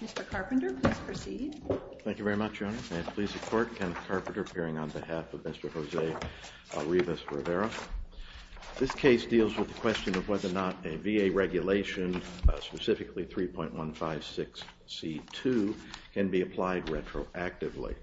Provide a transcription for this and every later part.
Mr. Carpenter, please proceed. Thank you very much, Your Honor. May it please the Court, Kenneth Carpenter, appearing on behalf of Mr. Jose Arribas-Rivera. This case deals with the question of whether or not a VA regulation, specifically 3.156C2, can be applied retroactively.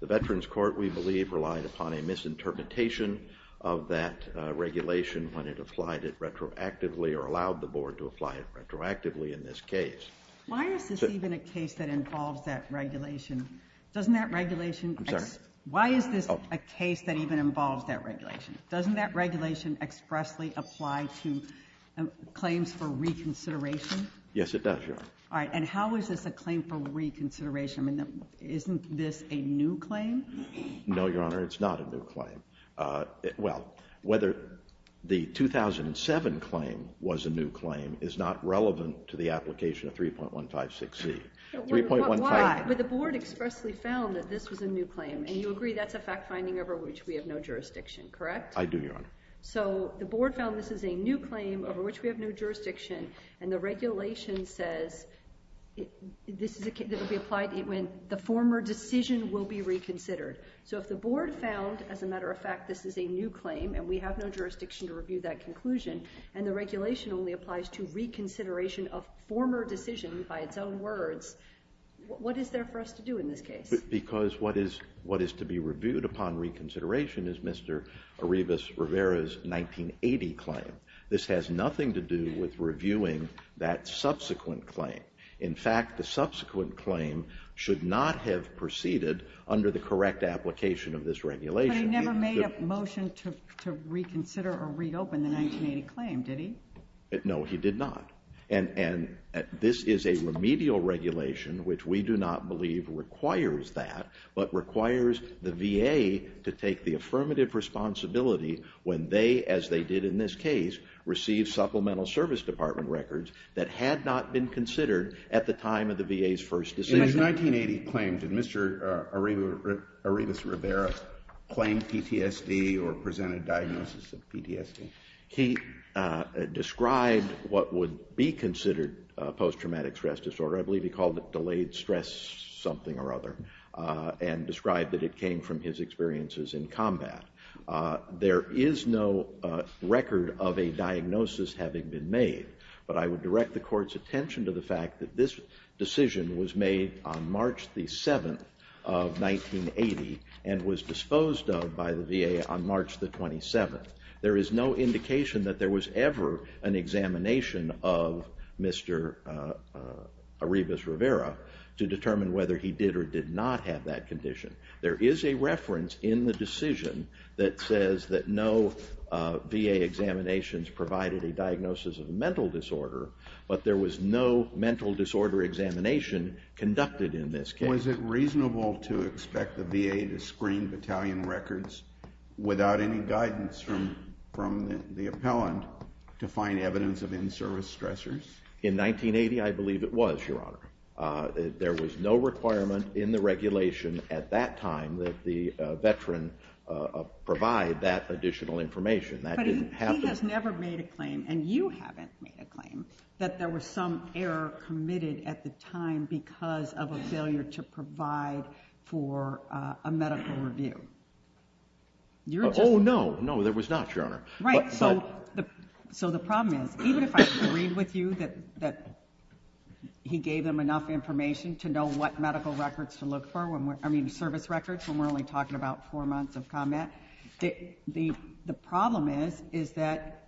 The Veterans Court, we believe, relied upon a misinterpretation of that regulation when it applied it retroactively or allowed the Board to apply it retroactively in this case. Why is this even a case that involves that regulation? Doesn't that regulation... I'm sorry? Why is this a case that even involves that regulation? Doesn't that regulation expressly apply to claims for reconsideration? Yes, it does, Your Honor. All right. And how is this a claim for reconsideration? I mean, isn't this a new claim? No, Your Honor, it's not a new claim. Well, whether the 2007 claim was a new claim is not relevant to the application of 3.156C. Why? But the Board expressly found that this was a new claim, and you agree that's a fact-finding over which we have no jurisdiction, correct? I do, Your Honor. So the Board found this is a new claim over which we have no jurisdiction, and the regulation says this is a case that will be applied when the former decision will be reconsidered. So if the Board found, as a matter of fact, this is a new claim, and we have no jurisdiction to review that conclusion, and the regulation only applies to reconsideration of former decision by its own words, what is there for us to do in this case? Because what is to be reviewed upon reconsideration is Mr. Arivas Rivera's 1980 claim. This has nothing to do with reviewing that subsequent claim. In fact, the subsequent claim should not have proceeded under the correct application of this regulation. But he never made a motion to reconsider or reopen the 1980 claim, did he? No, he did not. And this is a remedial regulation, which we do not believe requires that, but requires the VA to take the affirmative responsibility when they, as they did in this case, receive supplemental service department records that had not been considered at the time of the VA's first decision. In his 1980 claim, did Mr. Arivas Rivera claim PTSD or present a diagnosis of PTSD? He described what would be considered post-traumatic stress disorder. I believe he called it delayed stress something or other, and described that it came from his experiences in combat. There is no record of a diagnosis having been made, but I would direct the Court's attention to the fact that this decision was made on March the 7th of 1980, and was disposed of by the VA on March the 27th. There is no indication that there was ever an examination of Mr. Arivas Rivera to determine whether he did or did not have that condition. There is a no VA examinations provided a diagnosis of mental disorder, but there was no mental disorder examination conducted in this case. Was it reasonable to expect the VA to screen battalion records without any guidance from the appellant to find evidence of in-service stressors? In 1980, I believe it was, Your Honor. There was no requirement in the regulation at that time that the veteran provide that additional information. That didn't happen. But he has never made a claim, and you haven't made a claim, that there was some error committed at the time because of a failure to provide for a medical review. Oh, no. No, there was not, Your Honor. So the problem is, even if I agreed with you that he gave them enough information to know what medical records to look for, I mean service records, when we're only talking about four months of combat, the problem is that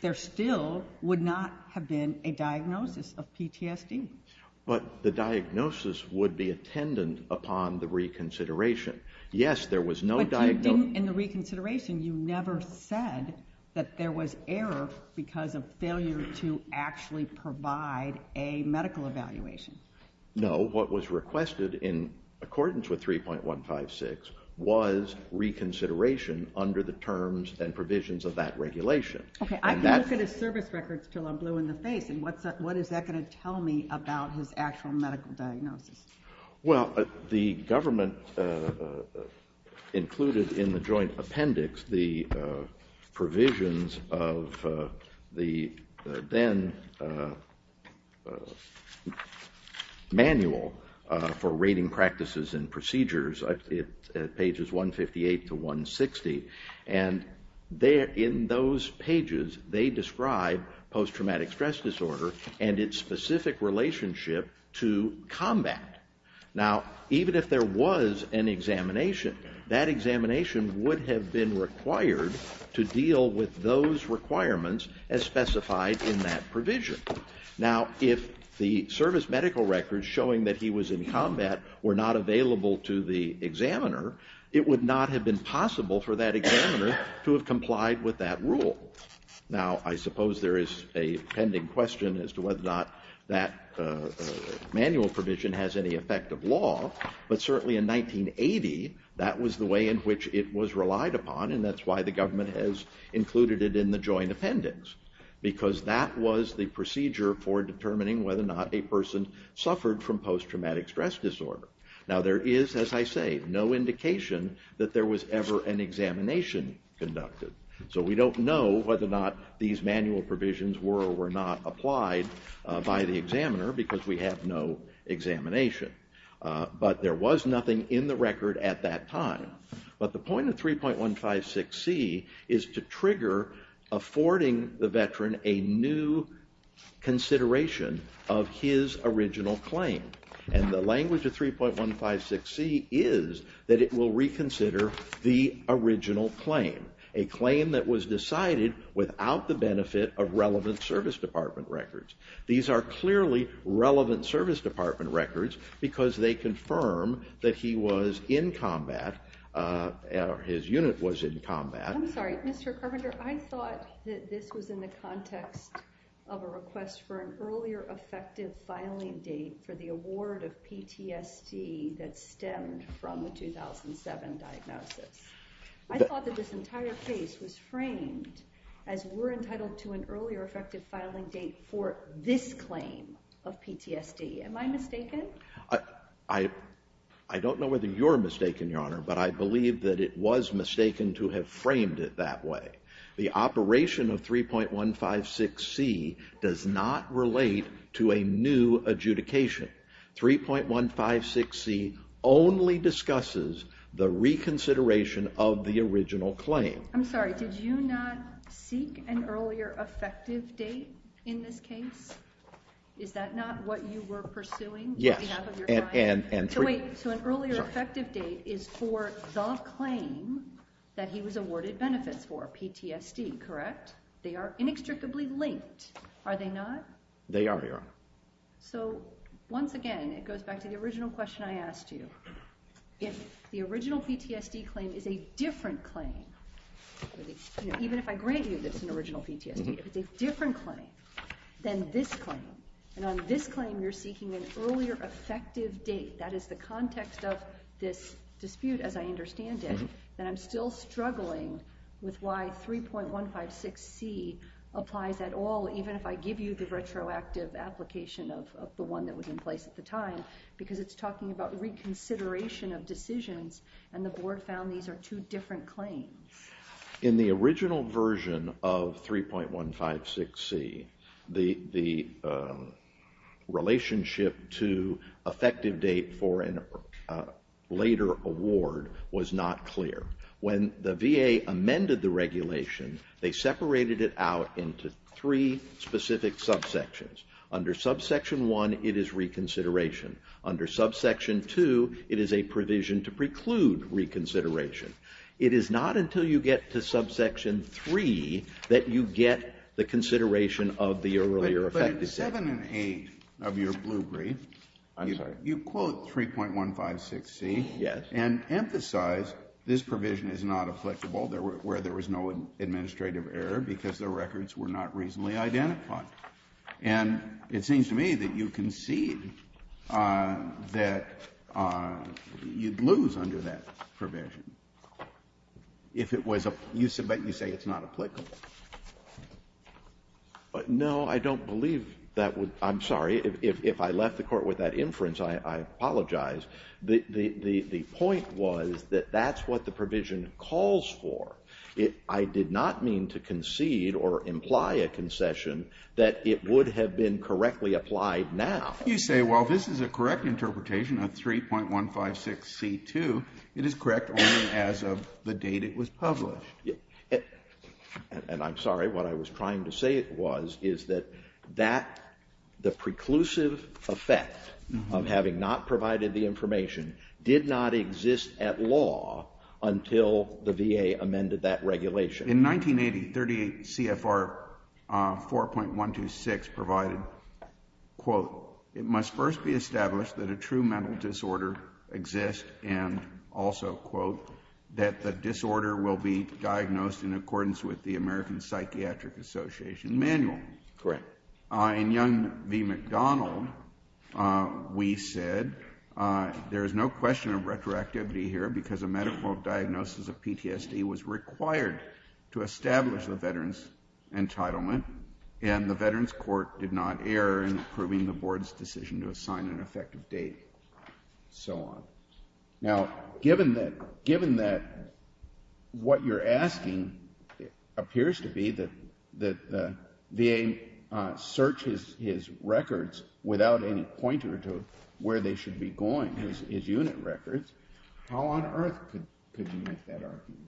there still would not have been a diagnosis of PTSD. But the diagnosis would be attendant upon the reconsideration. Yes, there was no diagnosis. But you didn't, in the reconsideration, you never said that there was error because of failure to actually provide a medical evaluation. No, what was requested in accordance with 3.156 was reconsideration under the terms and provisions of that regulation. Okay, I can look at his service records until I'm blue in the face, and what is that going to tell me about his actual medical diagnosis? Well, the government included in the joint appendix the provisions of the then manual for rating practices and procedures, pages 158 to 160. And in those pages, they describe post-traumatic stress disorder and its specific relationship to combat. Now even if there was an examination, that examination would have been required to deal with those requirements as specified in that provision. Now if the service medical records showing that he was in combat were not available to the examiner, it would not have been possible for that examiner to have complied with that rule. Now I suppose there is a pending question as to whether or not that manual provision has any effect of law, but certainly in 1980, that was the way in which it was relied upon and that's why the government has included it in the joint appendix. Because that was the procedure for determining whether or not a person suffered from post-traumatic stress disorder. Now there is, as I say, no indication that there was ever an examination conducted. So we don't know whether or not these manual provisions were or were not applied by the examiner because we have no examination. But there was nothing in the record at that time. But the point of 3.156c is to trigger affording the veteran a new consideration of his original claim. And the language of 3.156c is that it will reconsider the original claim. A claim that was decided without the benefit of relevant service department records. These are clearly relevant service department records because they confirm that he was in combat or his unit was in combat. I'm sorry, Mr. Carpenter, I thought that this was in the context of a request for an earlier effective filing date for the award of PTSD that stemmed from the 2007 diagnosis. I thought that this entire case was framed as we're entitled to an earlier effective filing date for this claim of PTSD. Am I mistaken? I don't know whether you're mistaken, Your Honor, but I believe that it was mistaken to have framed it that way. The operation of 3.156c does not relate to a new adjudication. 3.156c only discusses the reconsideration of the original claim. I'm sorry, did you not seek an earlier effective date in this case? Is that not what you were pursuing? Yes. So wait, so an earlier effective date is for the claim that he was awarded benefits for, PTSD, correct? They are inextricably linked, are they not? They are, Your Honor. So once again, it goes back to the original question I asked you. If the original PTSD claim is a different claim, even if I grant you that it's an original PTSD, if it's a different claim than this claim, and on this claim you're seeking an earlier effective date, that is the context of this dispute as I understand it, then I'm still struggling with why 3.156c applies at all, even if I give you the retroactive application of the one that was in place at the time, because it's talking about reconsideration of decisions, and the Board found these are two different claims. In the original version of 3.156c, the relationship to effective date for a later award was not clear. When the VA amended the regulation, they separated it out into three specific subsections. Under subsection one, it is reconsideration. Under subsection two, it is a provision to preclude reconsideration. It is not until you get to subsection three that you get the consideration of the earlier effective date. Under subsection seven and eight of your blue brief, you quote 3.156c and emphasize this provision is not applicable, where there was no administrative error because the records were not reasonably identified, and it seems to me that you concede that you'd lose under that provision if it was, but you say it's not applicable. No, I don't believe that would, I'm sorry, if I left the court with that inference, I apologize. The point was that that's what the provision calls for. I did not mean to concede or imply a concession that it would have been correctly applied now. You say, well, this is a correct interpretation of 3.156c2. It is correct only as of the date it was published. And I'm sorry, what I was trying to say was, is that the preclusive effect of having not provided the information did not exist at law until the VA amended that regulation. In 1980, 38 CFR 4.126 provided, quote, it must first be established that a true mental disorder exists, and also, quote, that the disorder will be diagnosed in accordance with the American Psychiatric Association manual. Correct. In Young v. McDonald, we said there is no question of retroactivity here because a medical diagnosis of PTSD was required to establish the veteran's entitlement, and the Veterans Affairs Court did not err in approving the board's decision to assign an effective date, so on. Now, given that what you're asking appears to be that the VA searches his records without any pointer to where they should be going, his unit records, how on earth could you make that argument?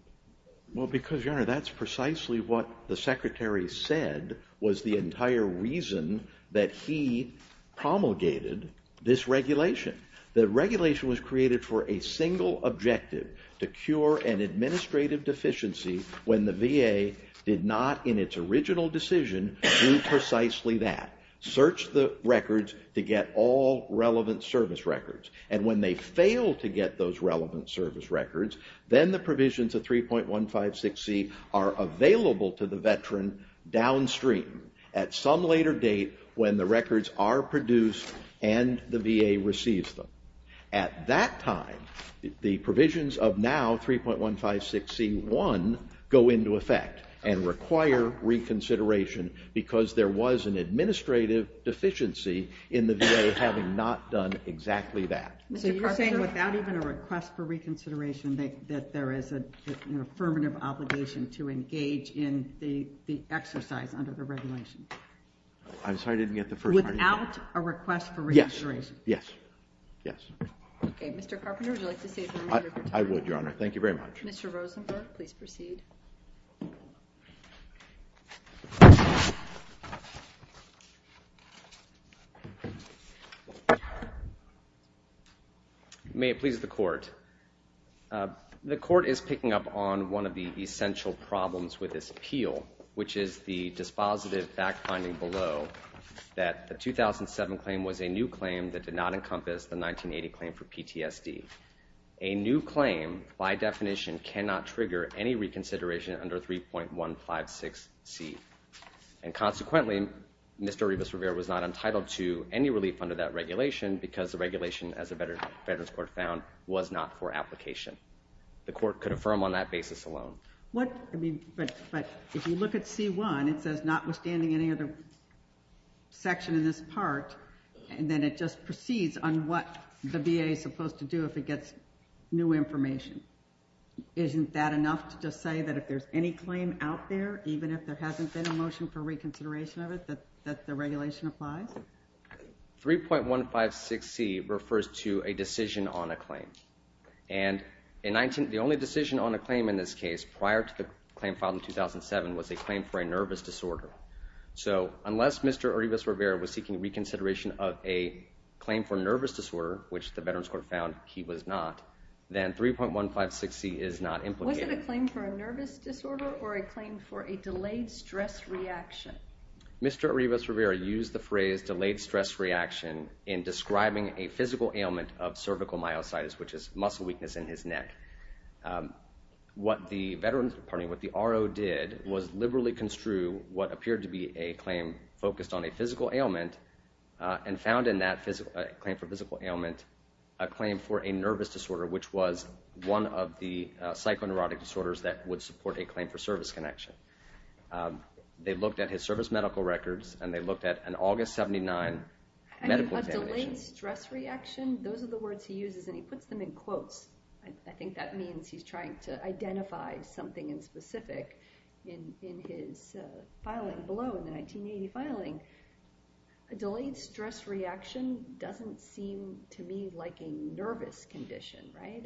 Well, because, Your Honor, that's precisely what the Secretary said was the entire reason that he promulgated this regulation. The regulation was created for a single objective, to cure an administrative deficiency when the VA did not, in its original decision, do precisely that, search the records to get all relevant service records. And when they fail to get those relevant service records, then the provisions of 3.156c are available to the veteran downstream at some later date when the records are produced and the VA receives them. At that time, the provisions of now 3.156c1 go into effect and require reconsideration because there was an administrative deficiency in the VA having not done exactly that. So you're saying without even a request for reconsideration, that there is an affirmative obligation to engage in the exercise under the regulation? I'm sorry, I didn't get the first part of that. Without a request for reconsideration? Yes. Yes. Yes. Okay, Mr. Carpenter, would you like to say something? I would, Your Honor. Thank you very much. Mr. Rosenberg, please proceed. May it please the Court. The Court is picking up on one of the essential problems with this appeal, which is the dispositive fact finding below that the 2007 claim was a new claim that did not encompass the 1980 claim for PTSD. A new claim, by definition, cannot trigger any reconsideration under 3.156c. And consequently, Mr. Rivas-Rivera was not entitled to any relief under that regulation because the regulation, as the Veterans Court found, was not for application. The Court could affirm on that basis alone. But if you look at c1, it says notwithstanding any other section in this part, and then it just proceeds on what the VA is supposed to do if it gets new information. Isn't that enough to just say that if there's any claim out there, even if there hasn't been a motion for reconsideration of it, that the regulation applies? 3.156c refers to a decision on a claim. And the only decision on a claim in this case prior to the claim filed in 2007 was a claim for a nervous disorder. So unless Mr. Rivas-Rivera was seeking reconsideration of a claim for a nervous disorder, which the Veterans Court found he was not, then 3.156c is not implicated. Was it a claim for a nervous disorder or a claim for a delayed stress reaction? Mr. Rivas-Rivera used the phrase delayed stress reaction in describing a physical ailment of cervical myositis, which is muscle weakness in his neck. What the RO did was liberally construe what appeared to be a claim focused on a physical ailment and found in that claim for a physical ailment a claim for a nervous disorder, which was one of the psychoneurotic disorders that would support a claim for service connection. They looked at his service medical records and they looked at an August 79 medical examination. A delayed stress reaction, those are the words he uses and he puts them in quotes, I think that means he's trying to identify something in specific in his filing below, in the 1980 filing. A delayed stress reaction doesn't seem to me like a nervous condition, right?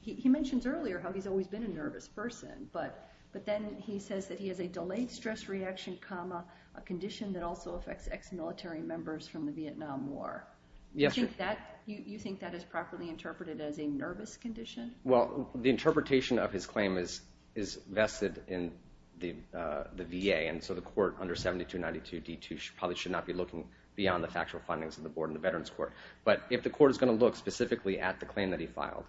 He mentions earlier how he's always been a nervous person, but then he says that he has a delayed stress reaction, a condition that also affects ex-military members from the Vietnam War. Do you think that is properly interpreted as a nervous condition? Well, the interpretation of his claim is vested in the VA and so the court under 7292 D2 probably should not be looking beyond the factual findings of the board in the Veterans Court. But if the court is going to look specifically at the claim that he filed,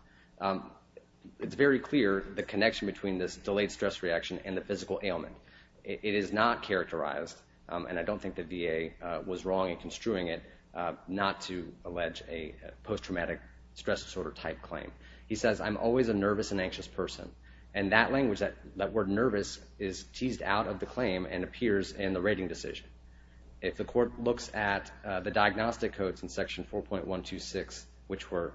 it's very clear the connection between this delayed stress reaction and the physical ailment. It is not characterized, and I don't think the VA was wrong in construing it, not to allege a post-traumatic stress disorder type claim. He says, I'm always a nervous and anxious person, and that language, that word nervous is teased out of the claim and appears in the rating decision. If the court looks at the diagnostic codes in section 4.126, which were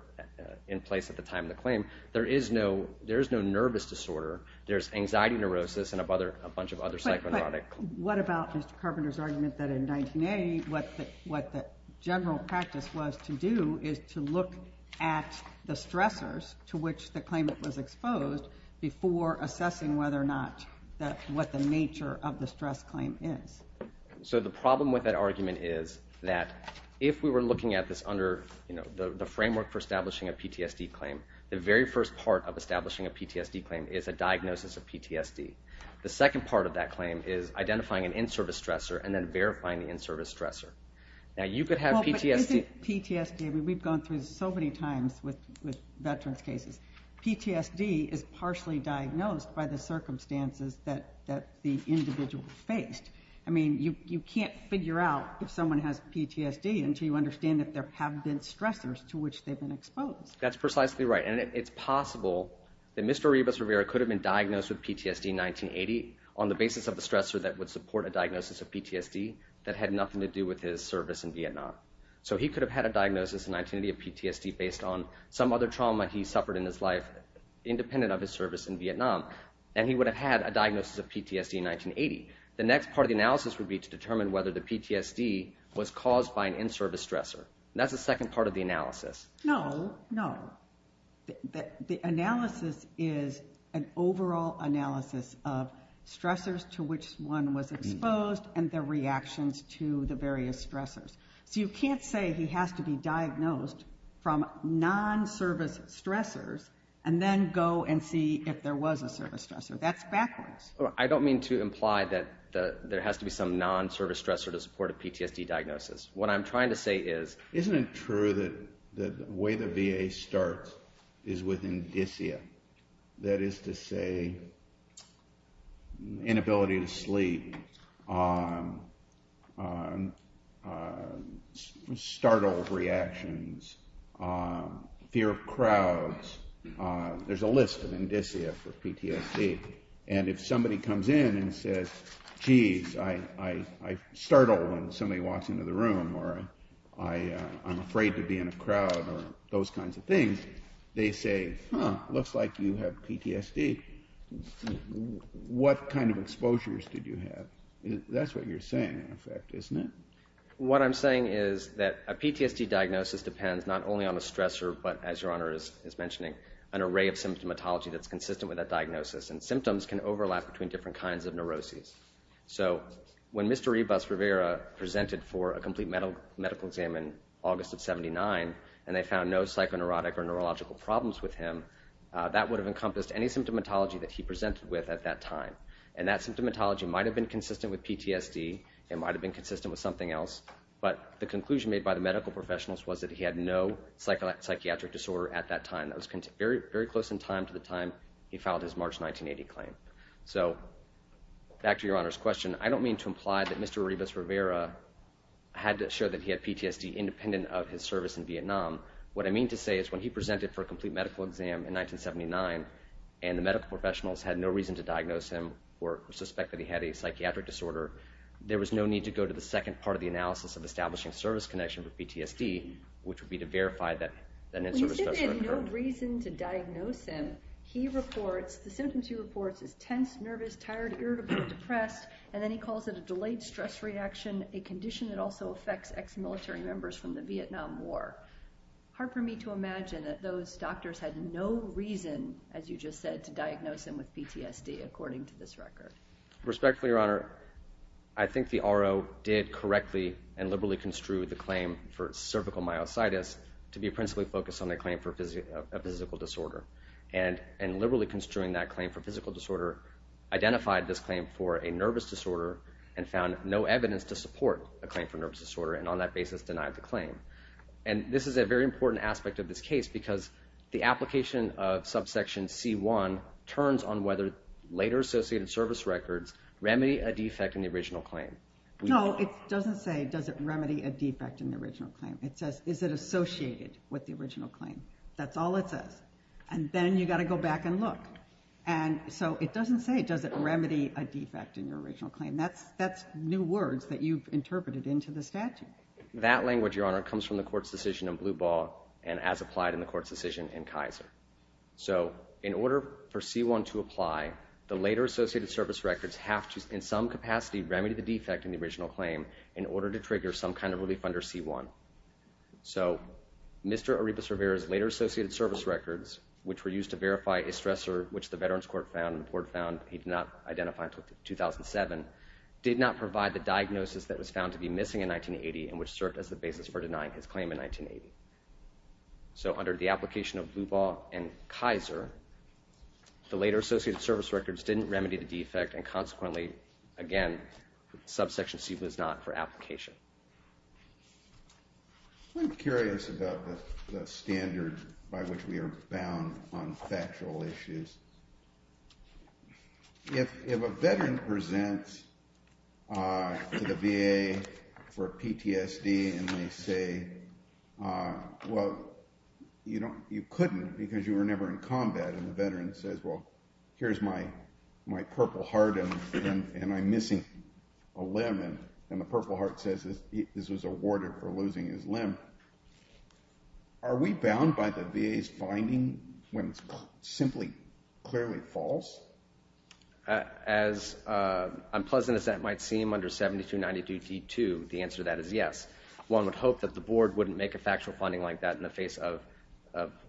in place at the time of the claim, there is no nervous disorder. There's anxiety neurosis and a bunch of other psychonautic. What about Mr. Carpenter's argument that in 1908, what the general practice was to do is to look at the stressors to which the claimant was exposed before assessing whether or not that what the nature of the stress claim is. So the problem with that argument is that if we were looking at this under the framework for establishing a PTSD claim, the very first part of establishing a PTSD claim is a diagnosis of PTSD. The second part of that claim is identifying an in-service stressor and then verifying the in-service stressor. Now you could have PTSD. Is it PTSD? I mean, we've gone through this so many times with veterans cases. PTSD is partially diagnosed by the circumstances that the individual faced. I mean, you can't figure out if someone has PTSD until you understand that there have been stressors to which they've been exposed. That's precisely right. And it's possible that Mr. Ribas Rivera could have been diagnosed with PTSD in 1980 on the basis of a stressor that would support a diagnosis of PTSD that had nothing to do with his service in Vietnam. So he could have had a diagnosis in 1980 of PTSD based on some other trauma he suffered in his life independent of his service in Vietnam. And he would have had a diagnosis of PTSD in 1980. The next part of the analysis would be to determine whether the PTSD was caused by an in-service stressor. That's the second part of the analysis. No, no. The analysis is an overall analysis of stressors to which one was exposed and their reactions to the various stressors. So you can't say he has to be diagnosed from non-service stressors and then go and see if there was a service stressor. That's backwards. I don't mean to imply that there has to be some non-service stressor to support a PTSD diagnosis. What I'm trying to say is, isn't it true that the way the VA starts is with indicia? That is to say, inability to sleep, startle reactions, fear of crowds. There's a list of indicia for PTSD. And if somebody comes in and says, jeez, I startle when somebody walks into the room or I'm afraid to be in a crowd or those kinds of things, they say, huh, looks like you have PTSD. What kind of exposures did you have? That's what you're saying, in effect, isn't it? What I'm saying is that a PTSD diagnosis depends not only on the stressor, but as Your Honor is mentioning, an array of symptomatology that's consistent with that diagnosis. And symptoms can overlap between different kinds of neuroses. So when Mr. Ybus Rivera presented for a complete medical exam in August of 79, and they found no psychoneurotic or neurological problems with him, that would have encompassed any symptomatology that he presented with at that time. And that symptomatology might have been consistent with PTSD, it might have been consistent with something else, but the conclusion made by the medical professionals was that he had no psychiatric disorder at that time. That was very close in time to the time he filed his March 1980 claim. So back to Your Honor's question, I don't mean to imply that Mr. Ybus Rivera had to show that he had PTSD independent of his service in Vietnam. What I mean to say is when he presented for a complete medical exam in 1979, and the medical professionals had no reason to diagnose him or suspect that he had a psychiatric disorder, there was no need to go to the second part of the analysis of establishing service connection with PTSD, which would be to verify that an insert of stress would occur. But when you say that he had no reason to diagnose him, he reports, the symptoms he reports is tense, nervous, tired, irritable, depressed, and then he calls it a delayed stress reaction, a condition that also affects ex-military members from the Vietnam War. Hard for me to imagine that those doctors had no reason, as you just said, to diagnose him with PTSD, according to this record. Respectfully, Your Honor, I think the RO did correctly and liberally construe the claim for cervical myositis to be principally focused on the claim for a physical disorder. And liberally construing that claim for physical disorder, identified this claim for a nervous disorder and found no evidence to support a claim for nervous disorder, and on that basis denied the claim. And this is a very important aspect of this case because the application of subsection C1 turns on whether later associated service records remedy a defect in the original claim. No, it doesn't say, does it remedy a defect in the original claim? It says, is it associated with the original claim? That's all it says. And then you've got to go back and look. And so it doesn't say, does it remedy a defect in the original claim? That's new words that you've interpreted into the statute. That language, Your Honor, comes from the court's decision in Blue Ball and as applied in the court's decision in Kaiser. So in order for C1 to apply, the later associated service records have to in some capacity remedy the defect in the original claim in order to trigger some kind of relief under C1. So Mr. Arepas Rivera's later associated service records, which were used to verify a stressor, which the Veterans Court found and the court found, he did not identify until 2007, did not provide the diagnosis that was found to be missing in 1980 and which served as the basis for denying his claim in 1980. So under the application of Blue Ball and Kaiser, the later associated service records didn't remedy the defect and consequently, again, subsection C was not for application. I'm curious about the standard by which we are bound on factual issues. If a veteran presents to the VA for PTSD and they say, well, you couldn't because you were never in combat and the veteran says, well, here's my purple heart and I'm missing a limb and the purple heart says this was awarded for losing his limb, are we bound by the VA's finding when it's simply clearly false? As unpleasant as that might seem under 7292D2, the answer to that is yes. One would hope that the board wouldn't make a factual finding like that in the face of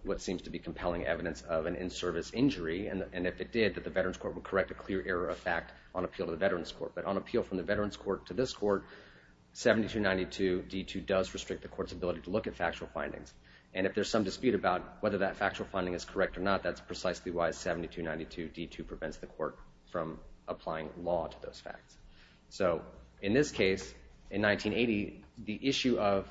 what seems to be compelling evidence of an in-service injury and if it did, that the Veterans Court would correct a clear error of fact on appeal to the Veterans Court. But on appeal from the Veterans Court to this court, 7292D2 does restrict the court's ability to look at factual findings and if there's some dispute about whether that factual finding is correct or not, that's precisely why 7292D2 prevents the court from applying law to those facts. In this case, in 1980, the issue of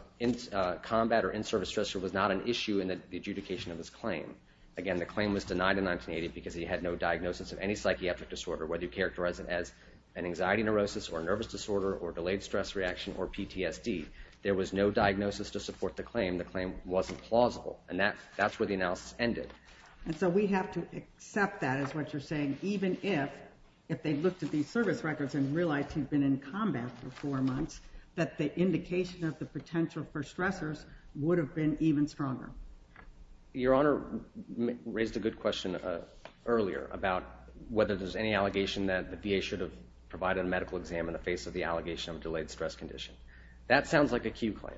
combat or in-service stressor was not an issue in the adjudication of this claim. Again, the claim was denied in 1980 because he had no diagnosis of any psychiatric disorder whether you characterize it as an anxiety neurosis or nervous disorder or delayed stress reaction or PTSD. There was no diagnosis to support the claim. The claim wasn't plausible and that's where the analysis ended. And so we have to accept that is what you're saying even if, if they looked at these service records and realized he'd been in combat for four months, that the indication of the potential for stressors would have been even stronger. Your Honor raised a good question earlier about whether there's any allegation that the VA should have provided a medical exam in the face of the allegation of a delayed stress condition. That sounds like a Q claim,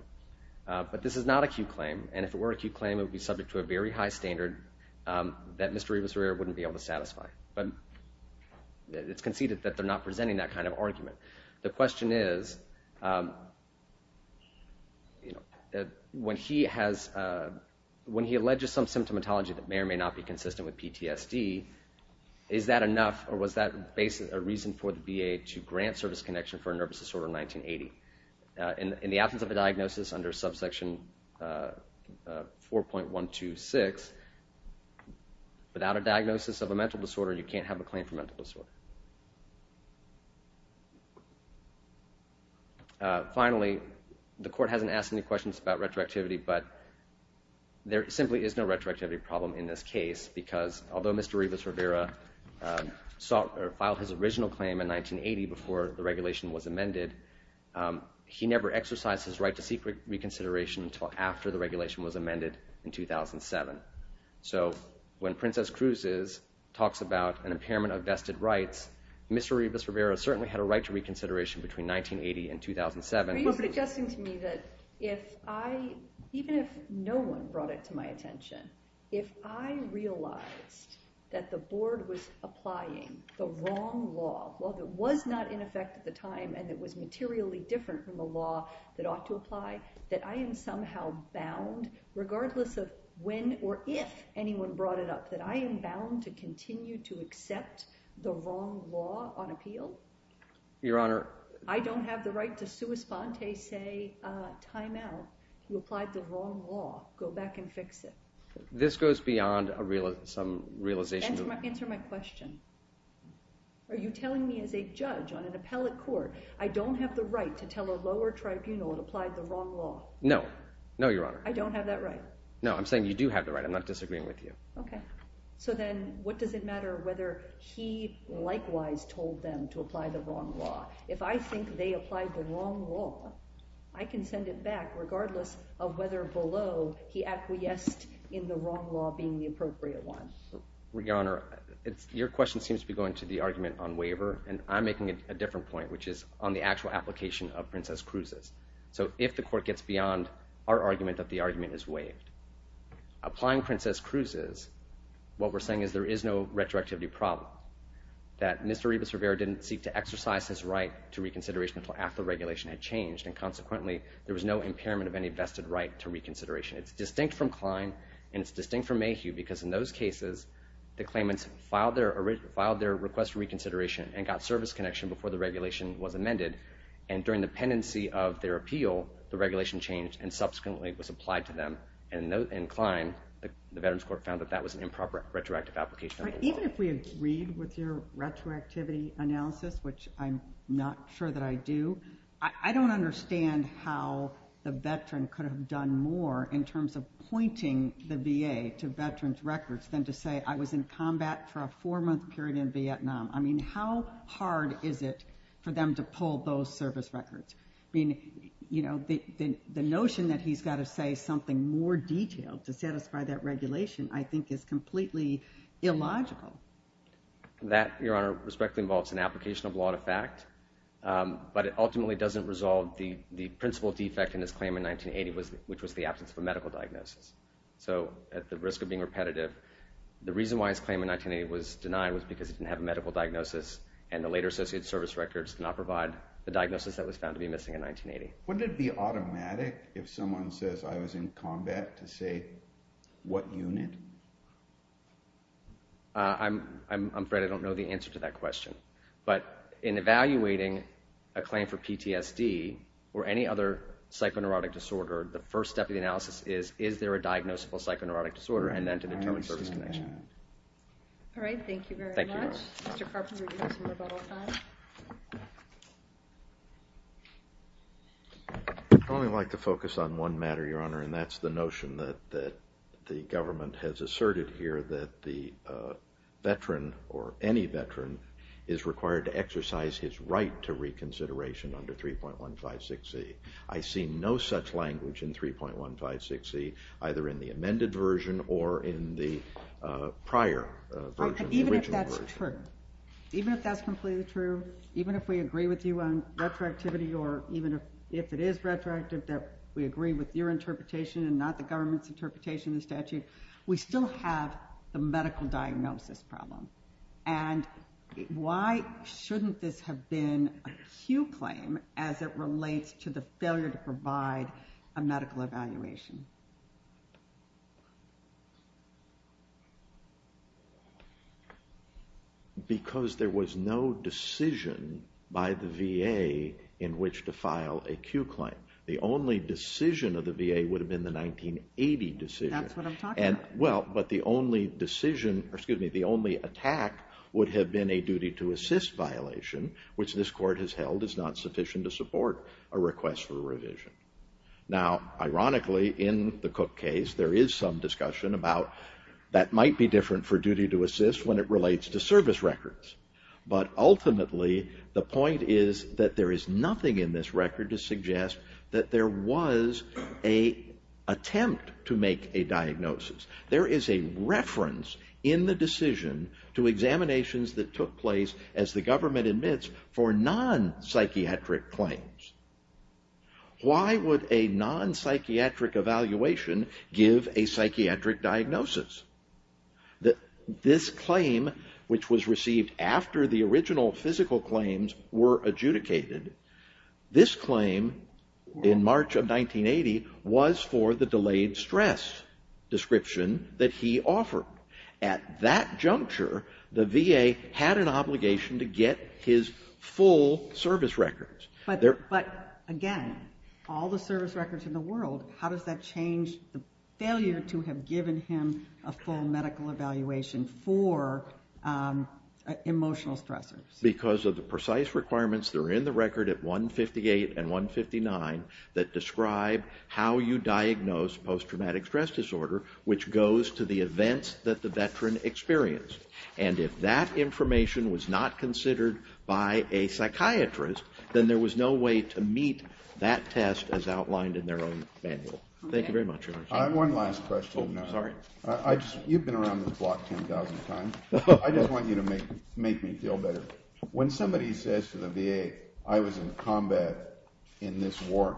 but this is not a Q claim. And if it were a Q claim, it would be subject to a very high standard that Mr. Rivas Riera wouldn't be able to satisfy. But it's conceded that they're not presenting that kind of argument. The question is, when he has, when he alleges some symptomatology that may or may not be a reason for the VA to grant service connection for a nervous disorder in 1980. In the absence of a diagnosis under subsection 4.126, without a diagnosis of a mental disorder, you can't have a claim for mental disorder. Finally, the court hasn't asked any questions about retroactivity, but there simply is no Mr. Rivas Rivera filed his original claim in 1980 before the regulation was amended. He never exercised his right to seek reconsideration until after the regulation was amended in 2007. So when Princess Cruz talks about an impairment of vested rights, Mr. Rivas Rivera certainly had a right to reconsideration between 1980 and 2007. Are you suggesting to me that if I, even if no one brought it to my attention, if I realized that the board was applying the wrong law, while it was not in effect at the time, and it was materially different from the law that ought to apply, that I am somehow bound, regardless of when or if anyone brought it up, that I am bound to continue to accept the wrong law on appeal? Your Honor. I don't have the right to sua sponte say, time out. You applied the wrong law. Go back and fix it. This goes beyond some realization. Answer my question. Are you telling me as a judge on an appellate court, I don't have the right to tell a lower tribunal it applied the wrong law? No. No, Your Honor. I don't have that right? No, I'm saying you do have the right. I'm not disagreeing with you. Okay. So then what does it matter whether he likewise told them to apply the wrong law? If I think they applied the wrong law, I can send it back, regardless of whether below he acquiesced in the wrong law being the appropriate one. Your Honor, your question seems to be going to the argument on waiver, and I'm making a different point, which is on the actual application of Princess Cruz's. So if the court gets beyond our argument that the argument is waived, applying Princess Cruz's, what we're saying is there is no retroactivity problem. That Mr. Rebus Rivera didn't seek to exercise his right to reconsideration until after the regulation had changed, and consequently, there was no impairment of any vested right to reconsideration. It's distinct from Klein, and it's distinct from Mayhew, because in those cases, the claimants filed their request for reconsideration and got service connection before the regulation was amended, and during the pendency of their appeal, the regulation changed and subsequently was applied to them. And in Klein, the Veterans Court found that that was an improper retroactive application of the law. Even if we agreed with your retroactivity analysis, which I'm not sure that I do, I don't understand how the veteran could have done more in terms of pointing the VA to veterans' records than to say, I was in combat for a four-month period in Vietnam. I mean, how hard is it for them to pull those service records? I mean, you know, the notion that he's got to say something more detailed to satisfy that regulation, I think, is completely illogical. That, Your Honor, respectfully involves an application of law to fact, but it ultimately doesn't resolve the principal defect in his claim in 1980, which was the absence of a medical diagnosis. So, at the risk of being repetitive, the reason why his claim in 1980 was denied was because he didn't have a medical diagnosis, and the later associated service records do not provide the diagnosis that was found to be missing in 1980. Wouldn't it be automatic if someone says, I was in combat, to say what unit? I'm afraid I don't know the answer to that question. But in evaluating a claim for PTSD or any other psychoneurotic disorder, the first step of the analysis is, is there a diagnosable psychoneurotic disorder, and then to determine service connection. All right. Thank you very much. Thank you, Your Honor. Mr. Carpenter, do you have some rebuttal time? I'd only like to focus on one matter, Your Honor, and that's the notion that the government has asserted here that the veteran, or any veteran, is required to exercise his right to reconsideration under 3.156C. I see no such language in 3.156C, either in the amended version or in the prior version, the original version. Even if that's true. Even if we agree with you on retroactivity, or even if it is retroactive, that we agree with your interpretation and not the government's interpretation of the statute, we still have the medical diagnosis problem. And why shouldn't this have been a Pew claim as it relates to the failure to provide a medical evaluation? Because there was no decision by the VA in which to file a Pew claim. The only decision of the VA would have been the 1980 decision. That's what I'm talking about. Well, but the only decision, or excuse me, the only attack would have been a duty to assist violation, which this court has held is not sufficient to support a request for revision. Now, ironically, in the Cook case, there is some discussion about that might be different for duty to assist when it relates to service records. But ultimately, the point is that there is nothing in this record to suggest that there was an attempt to make a diagnosis. There is a reference in the decision to examinations that took place, as the government admits, for non-psychiatric claims. Why would a non-psychiatric evaluation give a psychiatric diagnosis? This claim, which was received after the original physical claims were adjudicated, this claim in March of 1980 was for the delayed stress description that he offered. At that juncture, the VA had an obligation to get his full service records. But again, all the service records in the world, how does that change the failure to have given him a full medical evaluation for emotional stressors? Because of the precise requirements that are in the record at 158 and 159 that describe how you diagnose post-traumatic stress disorder, which goes to the events that the veteran experienced. And if that information was not considered by a psychiatrist, then there was no way to meet that test as outlined in their own manual. Thank you very much. I have one last question. Oh, sorry. You've been around this block 10,000 times. I just want you to make me feel better. When somebody says to the VA, I was in combat in this war,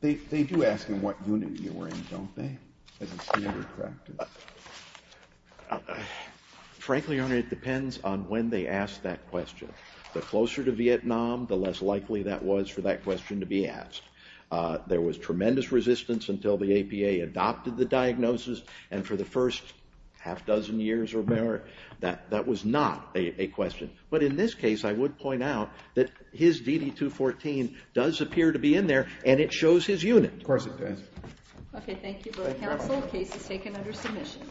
they do ask them what unit you were in, don't they, as a standard practice? Frankly, Your Honor, it depends on when they ask that question. The closer to Vietnam, the less likely that was for that question to be asked. There was tremendous resistance until the APA adopted the diagnosis, and for the first half-dozen years or more, that was not a question. But in this case, I would point out that his DD-214 does appear to be in there, and it shows his unit. Of course it does. Okay. Thank you very much. The full case is taken under submission.